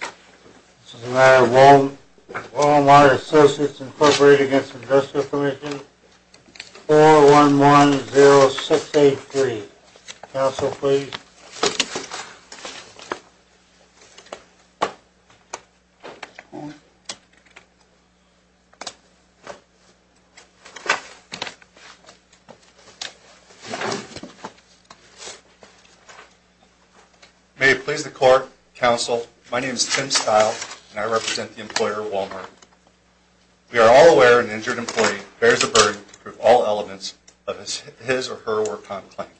This is a matter of Wal-Mart Associates, Inc. v. Industrial Commission, 4110683. May it please the Court, Counsel, my name is Tim Stile, and I represent the employer, Wal-Mart. We are all aware an injured employee bears the burden to prove all elements of his or her work-on-claim.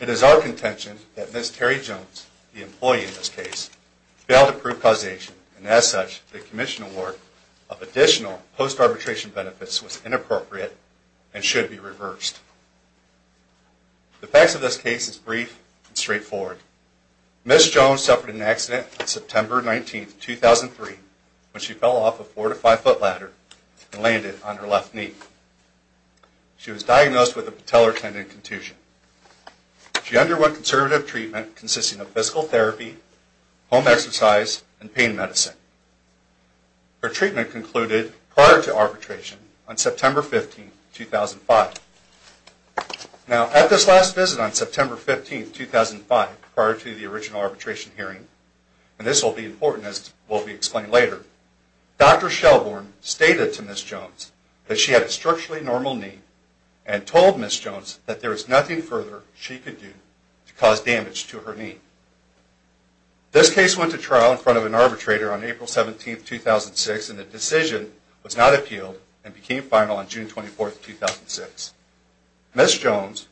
It is our contention that Ms. Terry Jones, the employee in this case, failed to prove causation, and as such, the Commission award of additional post-arbitration benefits was inappropriate and should be reversed. The facts of this case is brief and straightforward. Ms. Jones suffered an accident on September 19, 2003, when she fell off a four-to-five-foot ladder and landed on her left knee. She was diagnosed with a patellar tendon contusion. She underwent conservative treatment consisting of physical therapy, home exercise, and pain medicine. Her treatment concluded prior to arbitration on September 15, 2005. Now, at this last visit on September 15, 2005, prior to the original arbitration hearing, and this will be important as will be explained later, Dr. Shelbourne stated to Ms. Jones that she had a structurally normal knee and told Ms. Jones that there was nothing further she could do to cause damage to her knee. This case went to trial in front of an arbitrator on April 17, 2006, and the decision was not appealed and became final on June 24, 2006. Ms. Jones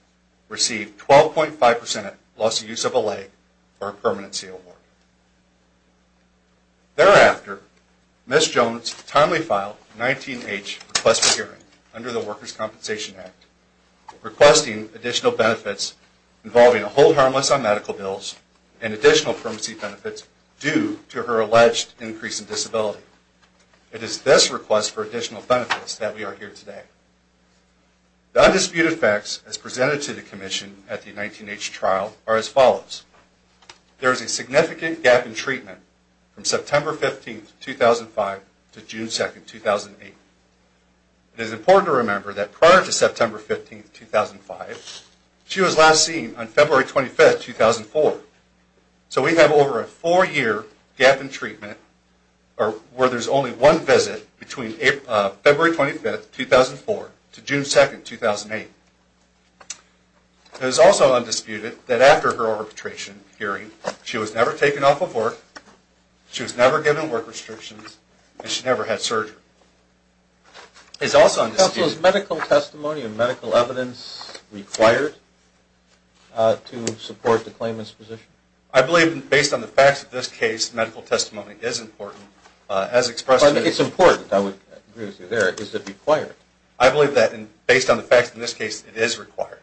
received 12.5% loss of use of a leg for her permanency award. Thereafter, Ms. Jones timely filed a 19-H request for hearing under the Workers' Compensation Act, requesting additional benefits involving a hold harmless on medical bills and additional permanency benefits due to her alleged increase in disability. It is this request for additional benefits that we are here today. The undisputed facts as presented to the Commission at the 19-H trial are as follows. There is a significant gap in treatment from September 15, 2005 to June 2, 2008. It is important to remember that prior to September 15, 2005, she was last seen on February 25, 2004. So we have over a four-year gap in treatment where there is only one visit between February 25, 2004 to June 2, 2008. It is also undisputed that after her arbitration hearing, she was never taken off of work, she was never given work restrictions, and she never had surgery. It is also undisputed... Counsel, is medical testimony and medical evidence required to support the claimant's position? I believe, based on the facts of this case, medical testimony is important. As expressed... It's important, I would agree with you there. Is it required? I believe that, based on the facts of this case, it is required.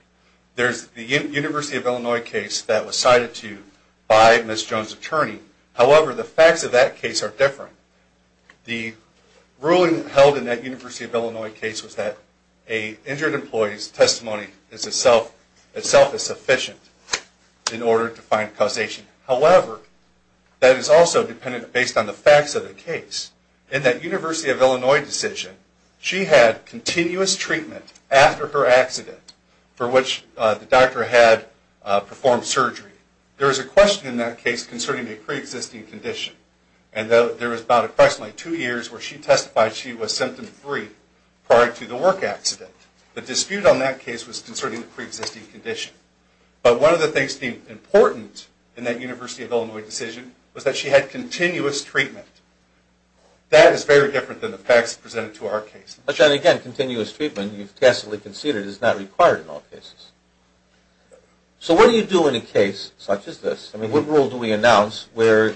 There is the University of Illinois case that was cited to you by Ms. Jones' attorney. However, the facts of that case are different. The ruling held in that University of Illinois case was that an injured employee's testimony itself is sufficient in order to find causation. However, that is also dependent based on the facts of the case. In that University of Illinois decision, she had continuous treatment after her accident for which the doctor had performed surgery. There is a question in that case concerning a pre-existing condition, and there was about approximately two years where she testified she was symptom-free prior to the work accident. The dispute on that case was concerning the pre-existing condition. But one of the things deemed important in that University of Illinois decision was that she had continuous treatment. That is very different than the facts presented to our case. But, John, again, continuous treatment, you've tacitly conceded, is not required in all cases. So what do you do in a case such as this? I mean, what rule do we announce where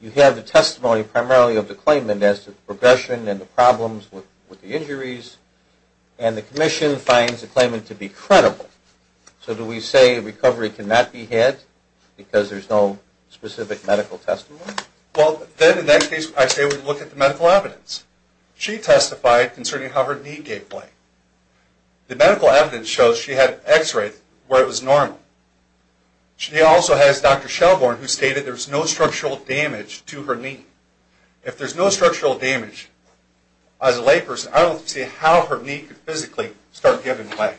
you have the testimony primarily of the claimant as to the progression and the problems with the injuries, and the commission finds the claimant to be credible? So do we say recovery cannot be had because there's no specific medical testimony? Well, then in that case, I say we look at the medical evidence. She testified concerning how her knee gave way. The medical evidence shows she had an x-ray where it was normal. She also has Dr. Shelborn who stated there was no structural damage to her knee. If there's no structural damage, as a layperson, I don't see how her knee could physically start giving way.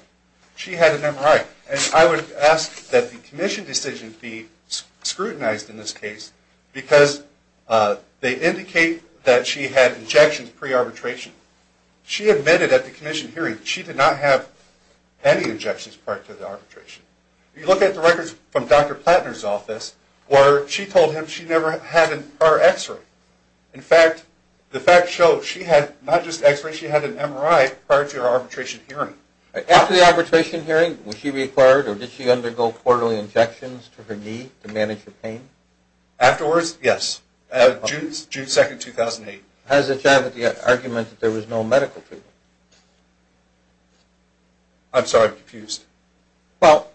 She had an MRI, and I would ask that the commission decision be scrutinized in this case because they indicate that she had injections pre-arbitration. She admitted at the commission hearing she did not have any injections prior to the arbitration. You look at the records from Dr. Plattner's office where she told him she never had her x-ray. In fact, the facts show she had not just x-ray, she had an MRI prior to her arbitration hearing. After the arbitration hearing, was she required or did she undergo quarterly injections to her knee to manage her pain? Afterwards, yes, June 2, 2008. How does it sound with the argument that there was no medical treatment? I'm sorry, I'm confused. Well,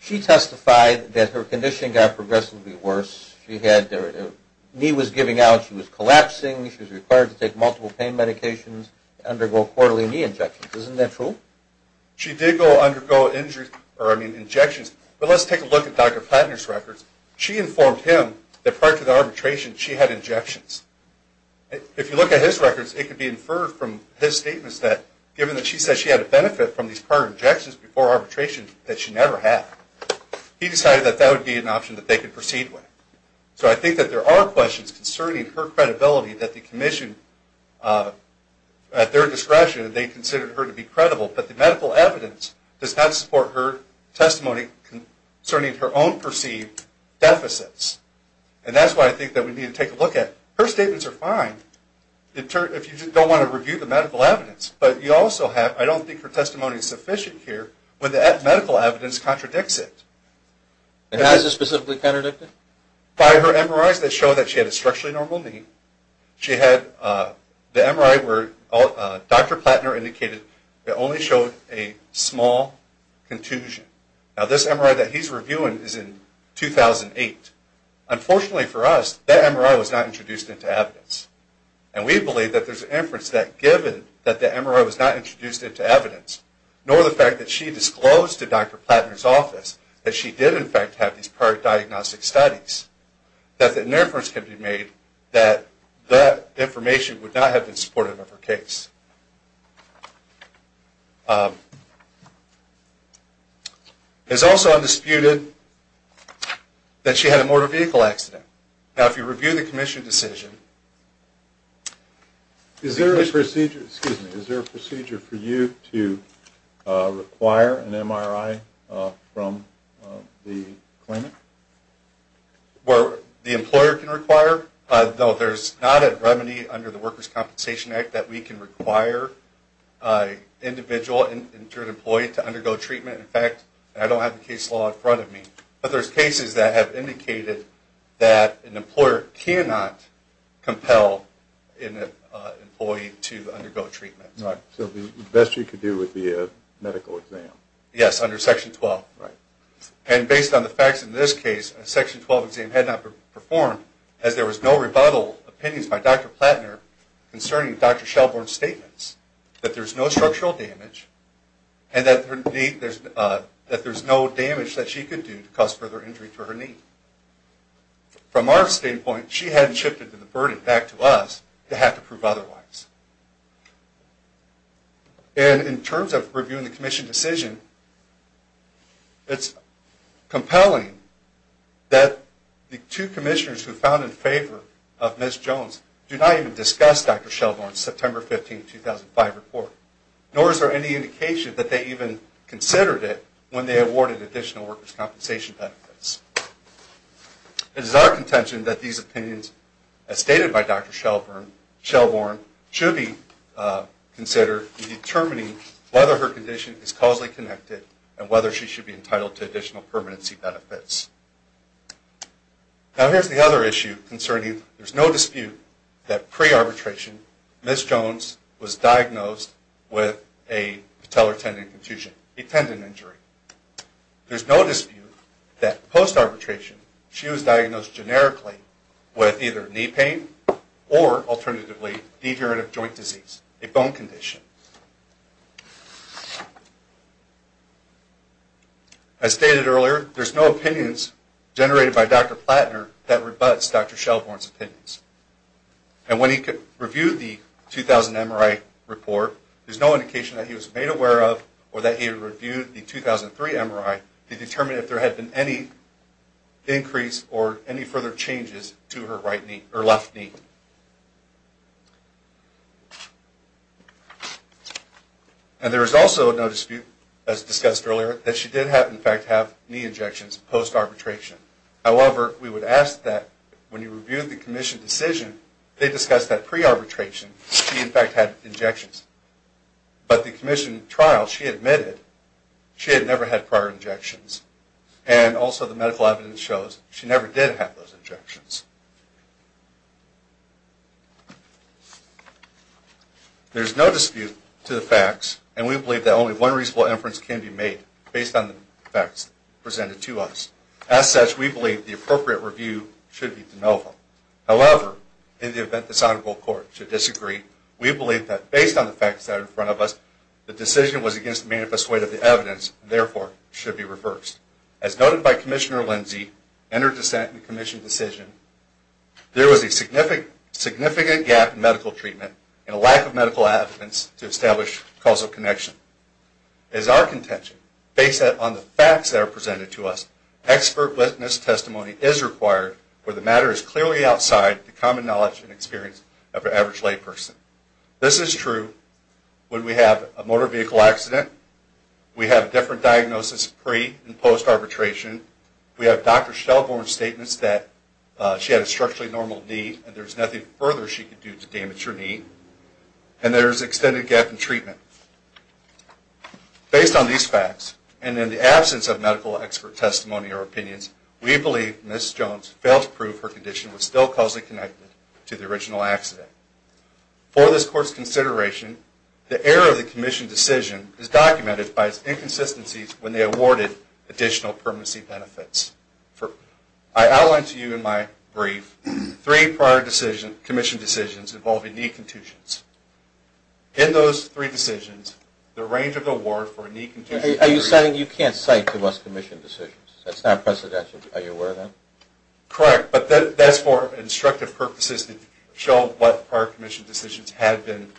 she testified that her condition got progressively worse. Her knee was giving out, she was collapsing, she was required to take multiple pain medications, undergo quarterly knee injections. Isn't that true? She did go undergo injections, but let's take a look at Dr. Plattner's records. She informed him that prior to the arbitration she had injections. If you look at his records, it could be inferred from his statements that given that she said she had a benefit from these prior injections before arbitration that she never had, he decided that that would be an option that they could proceed with. So I think that there are questions concerning her credibility that the commission, at their discretion, they considered her to be credible. But the medical evidence does not support her testimony concerning her own perceived deficits. And that's why I think that we need to take a look at her statements are fine if you don't want to review the medical evidence. But you also have, I don't think her testimony is sufficient here, when the medical evidence contradicts it. And how is this specifically contradicted? By her MRIs that show that she had a structurally normal knee. She had the MRI where Dr. Plattner indicated it only showed a small contusion. Now this MRI that he's reviewing is in 2008. Unfortunately for us, that MRI was not introduced into evidence. And we believe that there's an inference that given that the MRI was not introduced into evidence, nor the fact that she disclosed to Dr. Plattner's office that she did in fact have these prior diagnostic studies, that an inference could be made that that information would not have been supportive of her case. It is also undisputed that she had a motor vehicle accident. Now if you review the commission decision. Is there a procedure for you to require an MRI from the clinic? Where the employer can require? No, there's not a remedy under the Workers' Compensation Act that we can require an individual, an injured employee to undergo treatment. In fact, I don't have the case law in front of me. But there's cases that have indicated that an employer cannot compel an employee to undergo treatment. So the best you could do would be a medical exam? Yes, under Section 12. And based on the facts in this case, a Section 12 exam had not performed, as there was no rebuttal opinions by Dr. Plattner concerning Dr. Shelbourne's statements, that there's no structural damage, and that there's no damage that she could do to cause further injury to her knee. From our standpoint, she hadn't shifted the burden back to us to have to prove otherwise. And in terms of reviewing the commission decision, it's compelling that the two commissioners who found in favor of Ms. Jones do not even discuss Dr. Shelbourne's September 15, 2005 report, nor is there any indication that they even considered it when they awarded additional workers' compensation benefits. It is our contention that these opinions, as stated by Dr. Shelbourne, should be considered in determining whether her condition is causally connected and whether she should be entitled to additional permanency benefits. Now, here's the other issue concerning there's no dispute that pre-arbitration, Ms. Jones was diagnosed with a patellar tendon infusion, a tendon injury. There's no dispute that post-arbitration, she was diagnosed generically with either knee pain or, alternatively, devirative joint disease, a bone condition. As stated earlier, there's no opinions generated by Dr. Platner that rebuts Dr. Shelbourne's opinions. And when he reviewed the 2000 MRI report, there's no indication that he was made aware of or that he reviewed the 2003 MRI to determine if there had been any increase or any further changes to her left knee. And there is also no dispute, as discussed earlier, that she did, in fact, have knee injections post-arbitration. However, we would ask that, when he reviewed the Commission decision, they discuss that pre-arbitration, she, in fact, had injections. But the Commission trial, she admitted she had never had prior injections. And also, the medical evidence shows she never did have those injections. There's no dispute to the facts, and we believe that only one reasonable inference can be made based on the facts presented to us. As such, we believe the appropriate review should be de novo. However, in the event this Honorable Court should disagree, we believe that, based on the facts that are in front of us, the decision was against the manifest weight of the evidence and, therefore, should be reversed. As noted by Commissioner Lindsey, in her dissent in the Commission decision, there was a significant gap in medical treatment and a lack of medical evidence to establish causal connection. As our contention, based on the facts that are presented to us, expert witness testimony is required where the matter is clearly outside the common knowledge and experience of an average layperson. This is true when we have a motor vehicle accident, we have a different diagnosis pre- and post-arbitration, we have Dr. Shelbourne's statements that she had a structurally normal knee and there's nothing further she could do to damage her knee, and there's an extended gap in treatment. Based on these facts, and in the absence of medical expert testimony or opinions, we believe Ms. Jones failed to prove her condition was still causally connected to the original accident. For this Court's consideration, the error of the Commission decision is documented by its inconsistencies when they awarded additional permanency benefits. I outlined to you in my brief three prior Commission decisions involving knee contusions. In those three decisions, the range of award for a knee contusion... Are you saying you can't cite to us Commission decisions? That's not presidential, are you aware of that? Correct, but that's for instructive purposes to show what prior Commission decisions have been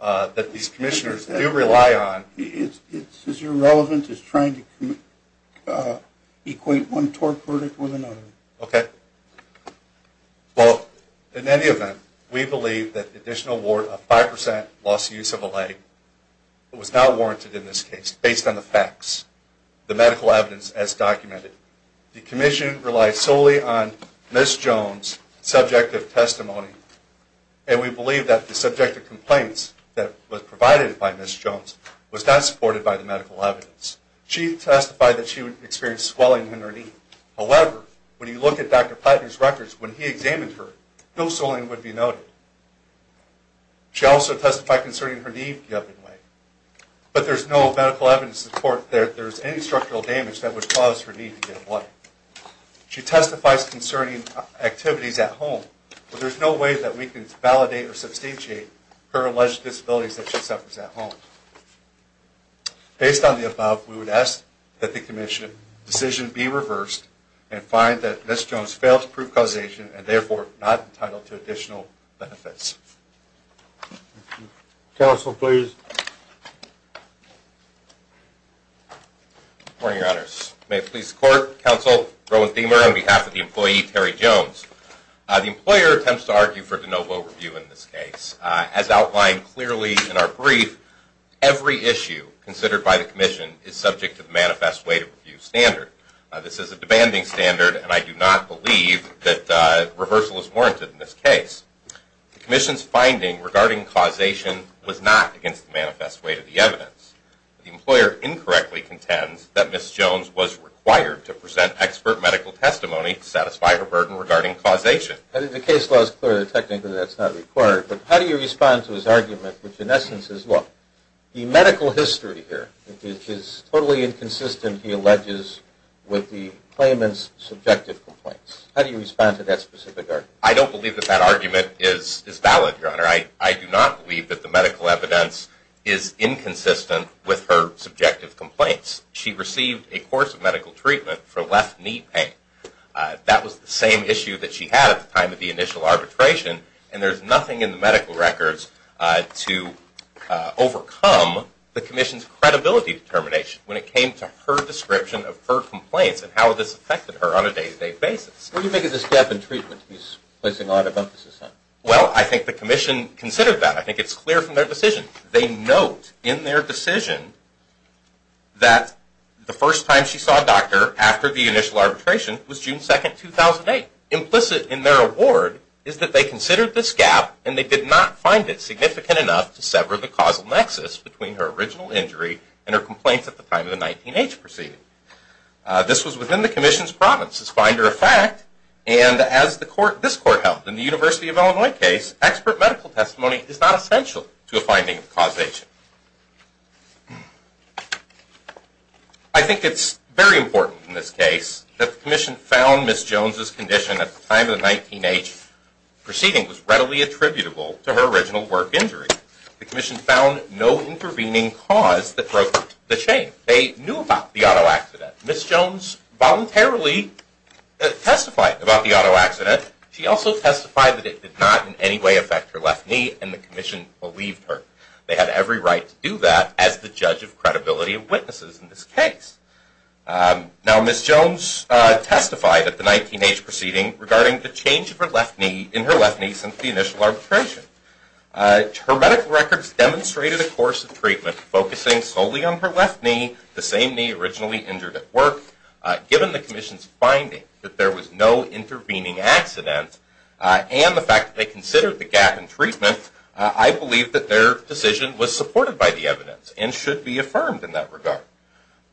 that these Commissioners do rely on. It's as irrelevant as trying to equate one TORP verdict with another. Okay. Well, in any event, we believe that the additional award of 5% loss of use of a leg was not warranted in this case based on the facts, the medical evidence as documented. The Commission relied solely on Ms. Jones' subjective testimony, and we believe that the subjective complaints that were provided by Ms. Jones was not supported by the medical evidence. She testified that she experienced swelling in her knee. However, when you look at Dr. Platner's records, when he examined her, no swelling would be noted. She also testified concerning her knee in a given way, but there's no medical evidence to support that there's any structural damage that would cause her knee to get bloody. She testifies concerning activities at home, but there's no way that we can validate or substantiate her alleged disabilities that she suffers at home. Based on the above, we would ask that the Commission decision be reversed and find that Ms. Jones failed to prove causation and therefore not entitled to additional benefits. Counsel, please. Good morning, Your Honors. May it please the Court, Counsel Rowan Thimer on behalf of the employee Terry Jones. The employer attempts to argue for de novo review in this case. As outlined clearly in our brief, every issue considered by the Commission is subject to the manifest way to review standard. This is a demanding standard, and I do not believe that reversal is warranted in this case. The employer incorrectly contends that Ms. Jones was required to present expert medical testimony to satisfy her burden regarding causation. I think the case law is clear that technically that's not required, but how do you respond to his argument, which in essence is, look, the medical history here is totally inconsistent, he alleges, with the claimant's subjective complaints. How do you respond to that specific argument? I don't believe that that argument is valid, Your Honor. I do not believe that the medical evidence is inconsistent with her subjective complaints. She received a course of medical treatment for left knee pain. That was the same issue that she had at the time of the initial arbitration, and there's nothing in the medical records to overcome the Commission's credibility determination when it came to her description of her complaints and how this affected her on a day-to-day basis. What do you make of this gap in treatment he's placing a lot of emphasis on? Well, I think the Commission considered that. I think it's clear from their decision. They note in their decision that the first time she saw a doctor after the initial arbitration was June 2, 2008. Implicit in their award is that they considered this gap and they did not find it significant enough to sever the causal nexus between her original injury and her complaints at the time of the 19-H proceeding. This was within the Commission's province's finder of fact, and as this court held in the University of Illinois case, expert medical testimony is not essential to a finding of causation. I think it's very important in this case that the Commission found Ms. Jones' condition at the time of the 19-H proceeding was readily attributable to her original work injury. The Commission found no intervening cause that broke the chain. They knew about the auto accident. Ms. Jones voluntarily testified about the auto accident. She also testified that it did not in any way affect her left knee, and the Commission believed her. They had every right to do that as the judge of credibility of witnesses in this case. Now, Ms. Jones testified at the 19-H proceeding regarding the change in her left knee since the initial arbitration. Her medical records demonstrated a course of treatment focusing solely on her left knee, the same knee originally injured at work. Given the Commission's finding that there was no intervening accident and the fact that they considered the gap in treatment, I believe that their decision was supported by the evidence and should be affirmed in that regard.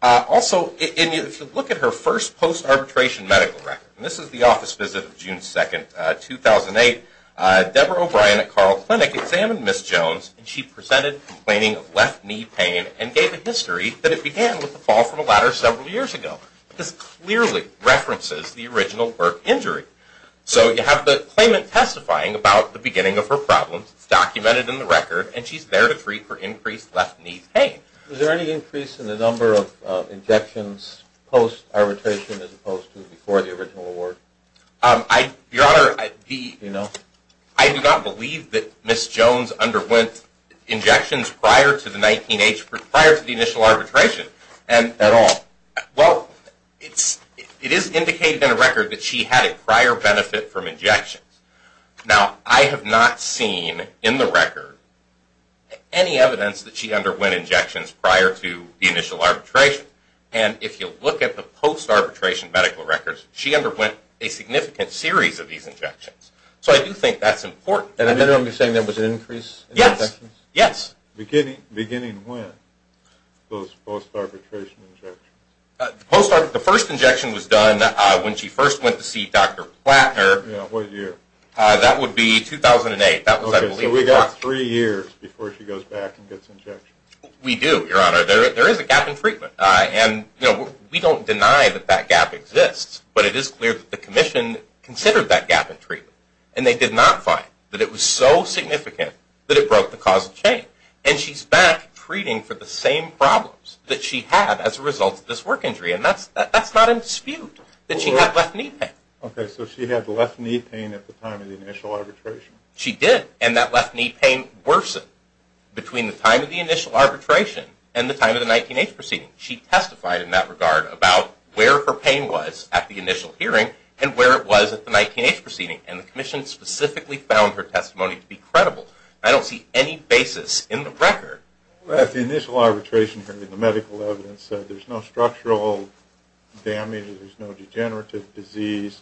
Also, if you look at her first post-arbitration medical record, and this is the office visit of June 2, 2008, Deborah O'Brien at Carl Clinic examined Ms. Jones, and she presented complaining of left knee pain and gave a history that it began with a fall from a ladder several years ago. This clearly references the original work injury. So you have the claimant testifying about the beginning of her problems. It's documented in the record, and she's there to plead for increased left knee pain. Was there any increase in the number of injections post-arbitration as opposed to before the original award? Your Honor, I do not believe that Ms. Jones underwent injections prior to the 19-H, prior to the initial arbitration at all. Well, it is indicated in the record that she had a prior benefit from injections. Now, I have not seen in the record any evidence that she underwent injections prior to the initial arbitration. And if you look at the post-arbitration medical records, she underwent a significant series of these injections. So I do think that's important. And then you're saying there was an increase in injections? Yes, yes. Beginning when, those post-arbitration injections? The first injection was done when she first went to see Dr. Plattner. Yeah, what year? That would be 2008. Okay, so we got three years before she goes back and gets injections. We do, Your Honor. There is a gap in treatment. We don't deny that that gap exists, but it is clear that the Commission considered that gap in treatment. And they did not find that it was so significant that it broke the causal chain. And she's back treating for the same problems that she had as a result of this work injury. And that's not in dispute, that she had left knee pain. Okay, so she had left knee pain at the time of the initial arbitration? She did. And that left knee pain worsened between the time of the initial arbitration and the time of the 19-H proceeding. She testified in that regard about where her pain was at the initial hearing and where it was at the 19-H proceeding. And the Commission specifically found her testimony to be credible. I don't see any basis in the record. The initial arbitration hearing, the medical evidence said there's no structural damage, there's no degenerative disease,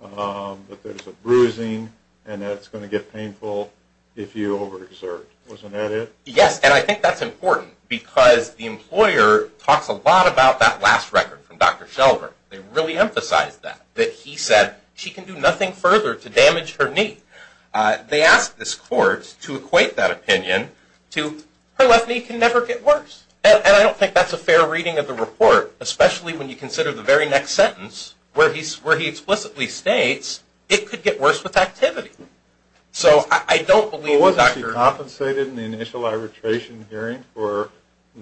that there's a bruising, and that it's going to get painful if you overexert. Wasn't that it? Yes, and I think that's important because the employer talks a lot about that last record from Dr. Shelver. They really emphasized that, that he said she can do nothing further to damage her knee. They asked this court to equate that opinion to her left knee can never get worse. And I don't think that's a fair reading of the report, especially when you consider the very next sentence where he explicitly states it could get worse with activity. Wasn't she compensated in the initial arbitration hearing for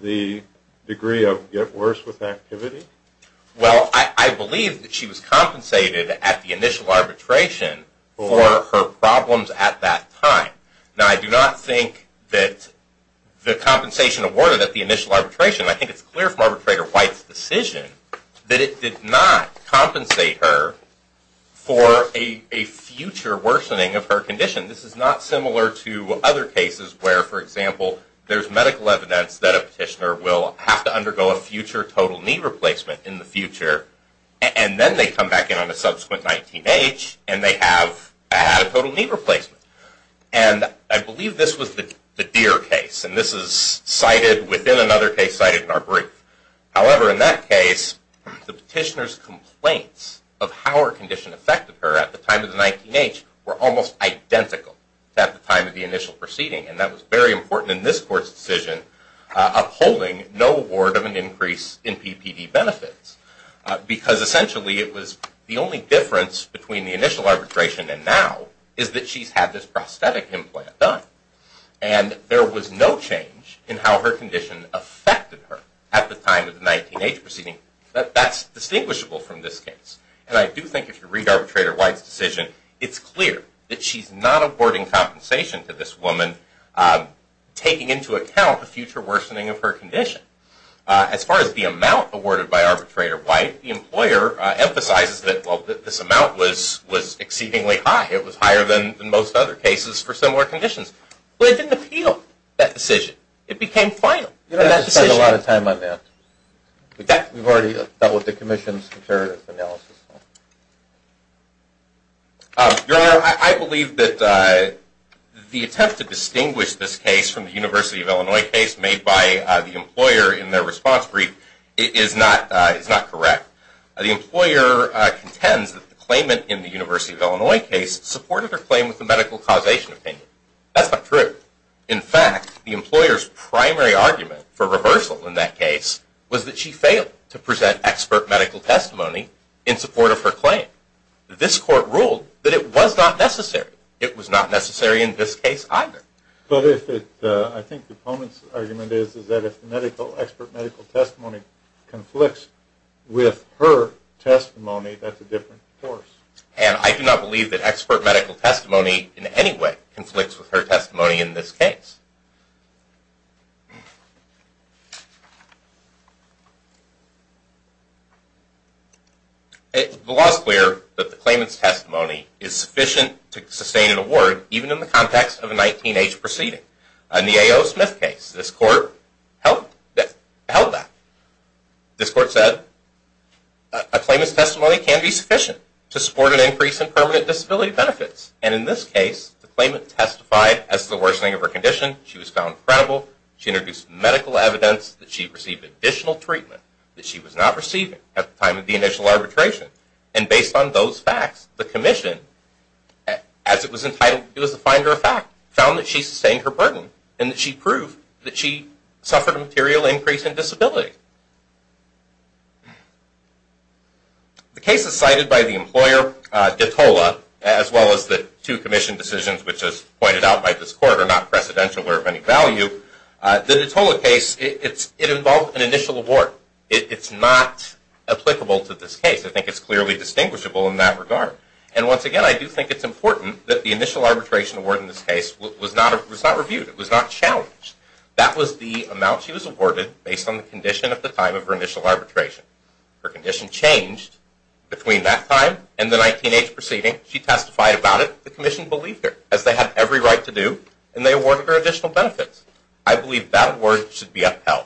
the degree of get worse with activity? Well, I believe that she was compensated at the initial arbitration for her problems at that time. Now, I do not think that the compensation awarded at the initial arbitration, I think it's clear from Arbitrator White's decision that it did not compensate her for a future worsening of her condition. This is not similar to other cases where, for example, there's medical evidence that a petitioner will have to undergo a future total knee replacement in the future, and then they come back in on a subsequent 19H, and they have had a total knee replacement. And I believe this was the Deere case, and this is cited within another case cited in our brief. However, in that case, the petitioner's complaints of how her condition affected her at the time of the 19H were almost identical at the time of the initial proceeding, and that was very important in this court's decision upholding no award of an increase in PPD benefits, because essentially it was the only difference between the initial arbitration and now is that she's had this prosthetic implant done. And there was no change in how her condition affected her at the time of the 19H proceeding. That's distinguishable from this case. And I do think if you read Arbitrator White's decision, it's clear that she's not awarding compensation to this woman, taking into account the future worsening of her condition. As far as the amount awarded by Arbitrator White, the employer emphasizes that this amount was exceedingly high. It was higher than most other cases for similar conditions. But it didn't appeal that decision. It became final. You don't have to spend a lot of time on that. We've already dealt with the Commission's comparative analysis. Your Honor, I believe that the attempt to distinguish this case from the University of Illinois case made by the employer in their response brief is not correct. The employer contends that the claimant in the University of Illinois case supported her claim with a medical causation opinion. That's not true. In fact, the employer's primary argument for reversal in that case was that she failed to present expert medical testimony in support of her claim. This Court ruled that it was not necessary. It was not necessary in this case either. But I think the opponent's argument is that if expert medical testimony conflicts with her testimony, that's a different course. And I do not believe that expert medical testimony in any way conflicts with her testimony in this case. The law is clear that the claimant's testimony is sufficient to sustain an award, even in the context of a 19-age proceeding. In the A.O. Smith case, this Court held that. This Court said a claimant's testimony can be sufficient to support an increase in permanent disability benefits. And in this case, the claimant testified as to the worsening of her condition. She was found credible. She introduced medical evidence that she received additional treatment that she was not receiving at the time of the initial arbitration. And based on those facts, the Commission, as it was entitled to do as a finder of fact, found that she sustained her burden and that she proved that she suffered a material increase in disability. The cases cited by the employer, Detola, as well as the two Commission decisions, which as pointed out by this Court are not precedential or of any value, the Detola case, it involved an initial award. It's not applicable to this case. I think it's clearly distinguishable in that regard. And once again, I do think it's important that the initial arbitration award in this case was not reviewed. It was not challenged. That was the amount she was awarded based on the condition at the time of her initial arbitration. Her condition changed between that time and the 19-age proceeding. She testified about it. The Commission believed her, as they have every right to do, and they awarded her additional benefits. I believe that award should be upheld.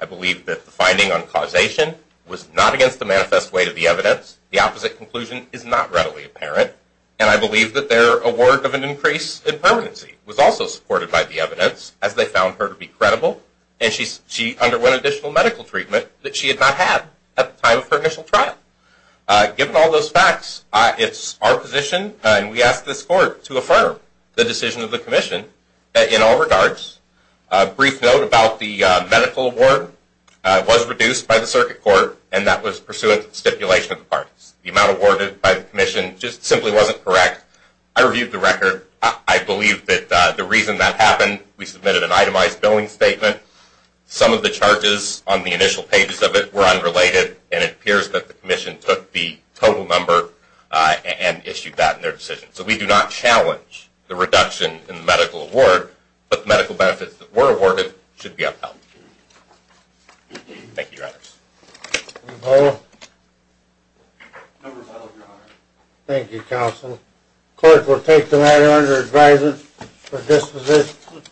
I believe that the finding on causation was not against the manifest way to the evidence. The opposite conclusion is not readily apparent. And I believe that their award of an increase in permanency was also supported by the evidence, as they found her to be credible. And she underwent additional medical treatment that she had not had at the time of her initial trial. Given all those facts, it's our position, and we ask this Court to affirm the decision of the Commission in all regards. A brief note about the medical award. It was reduced by the Circuit Court, and that was pursuant to the stipulation of the parties. The amount awarded by the Commission just simply wasn't correct. I reviewed the record. I believe that the reason that happened, we submitted an itemized billing statement. Some of the charges on the initial pages of it were unrelated, and it appears that the Commission took the total number and issued that in their decision. So we do not challenge the reduction in the medical award, but the medical benefits that were awarded should be upheld. Thank you, Your Honors. Thank you, Counsel. The Court will take the matter under advisory for disposition.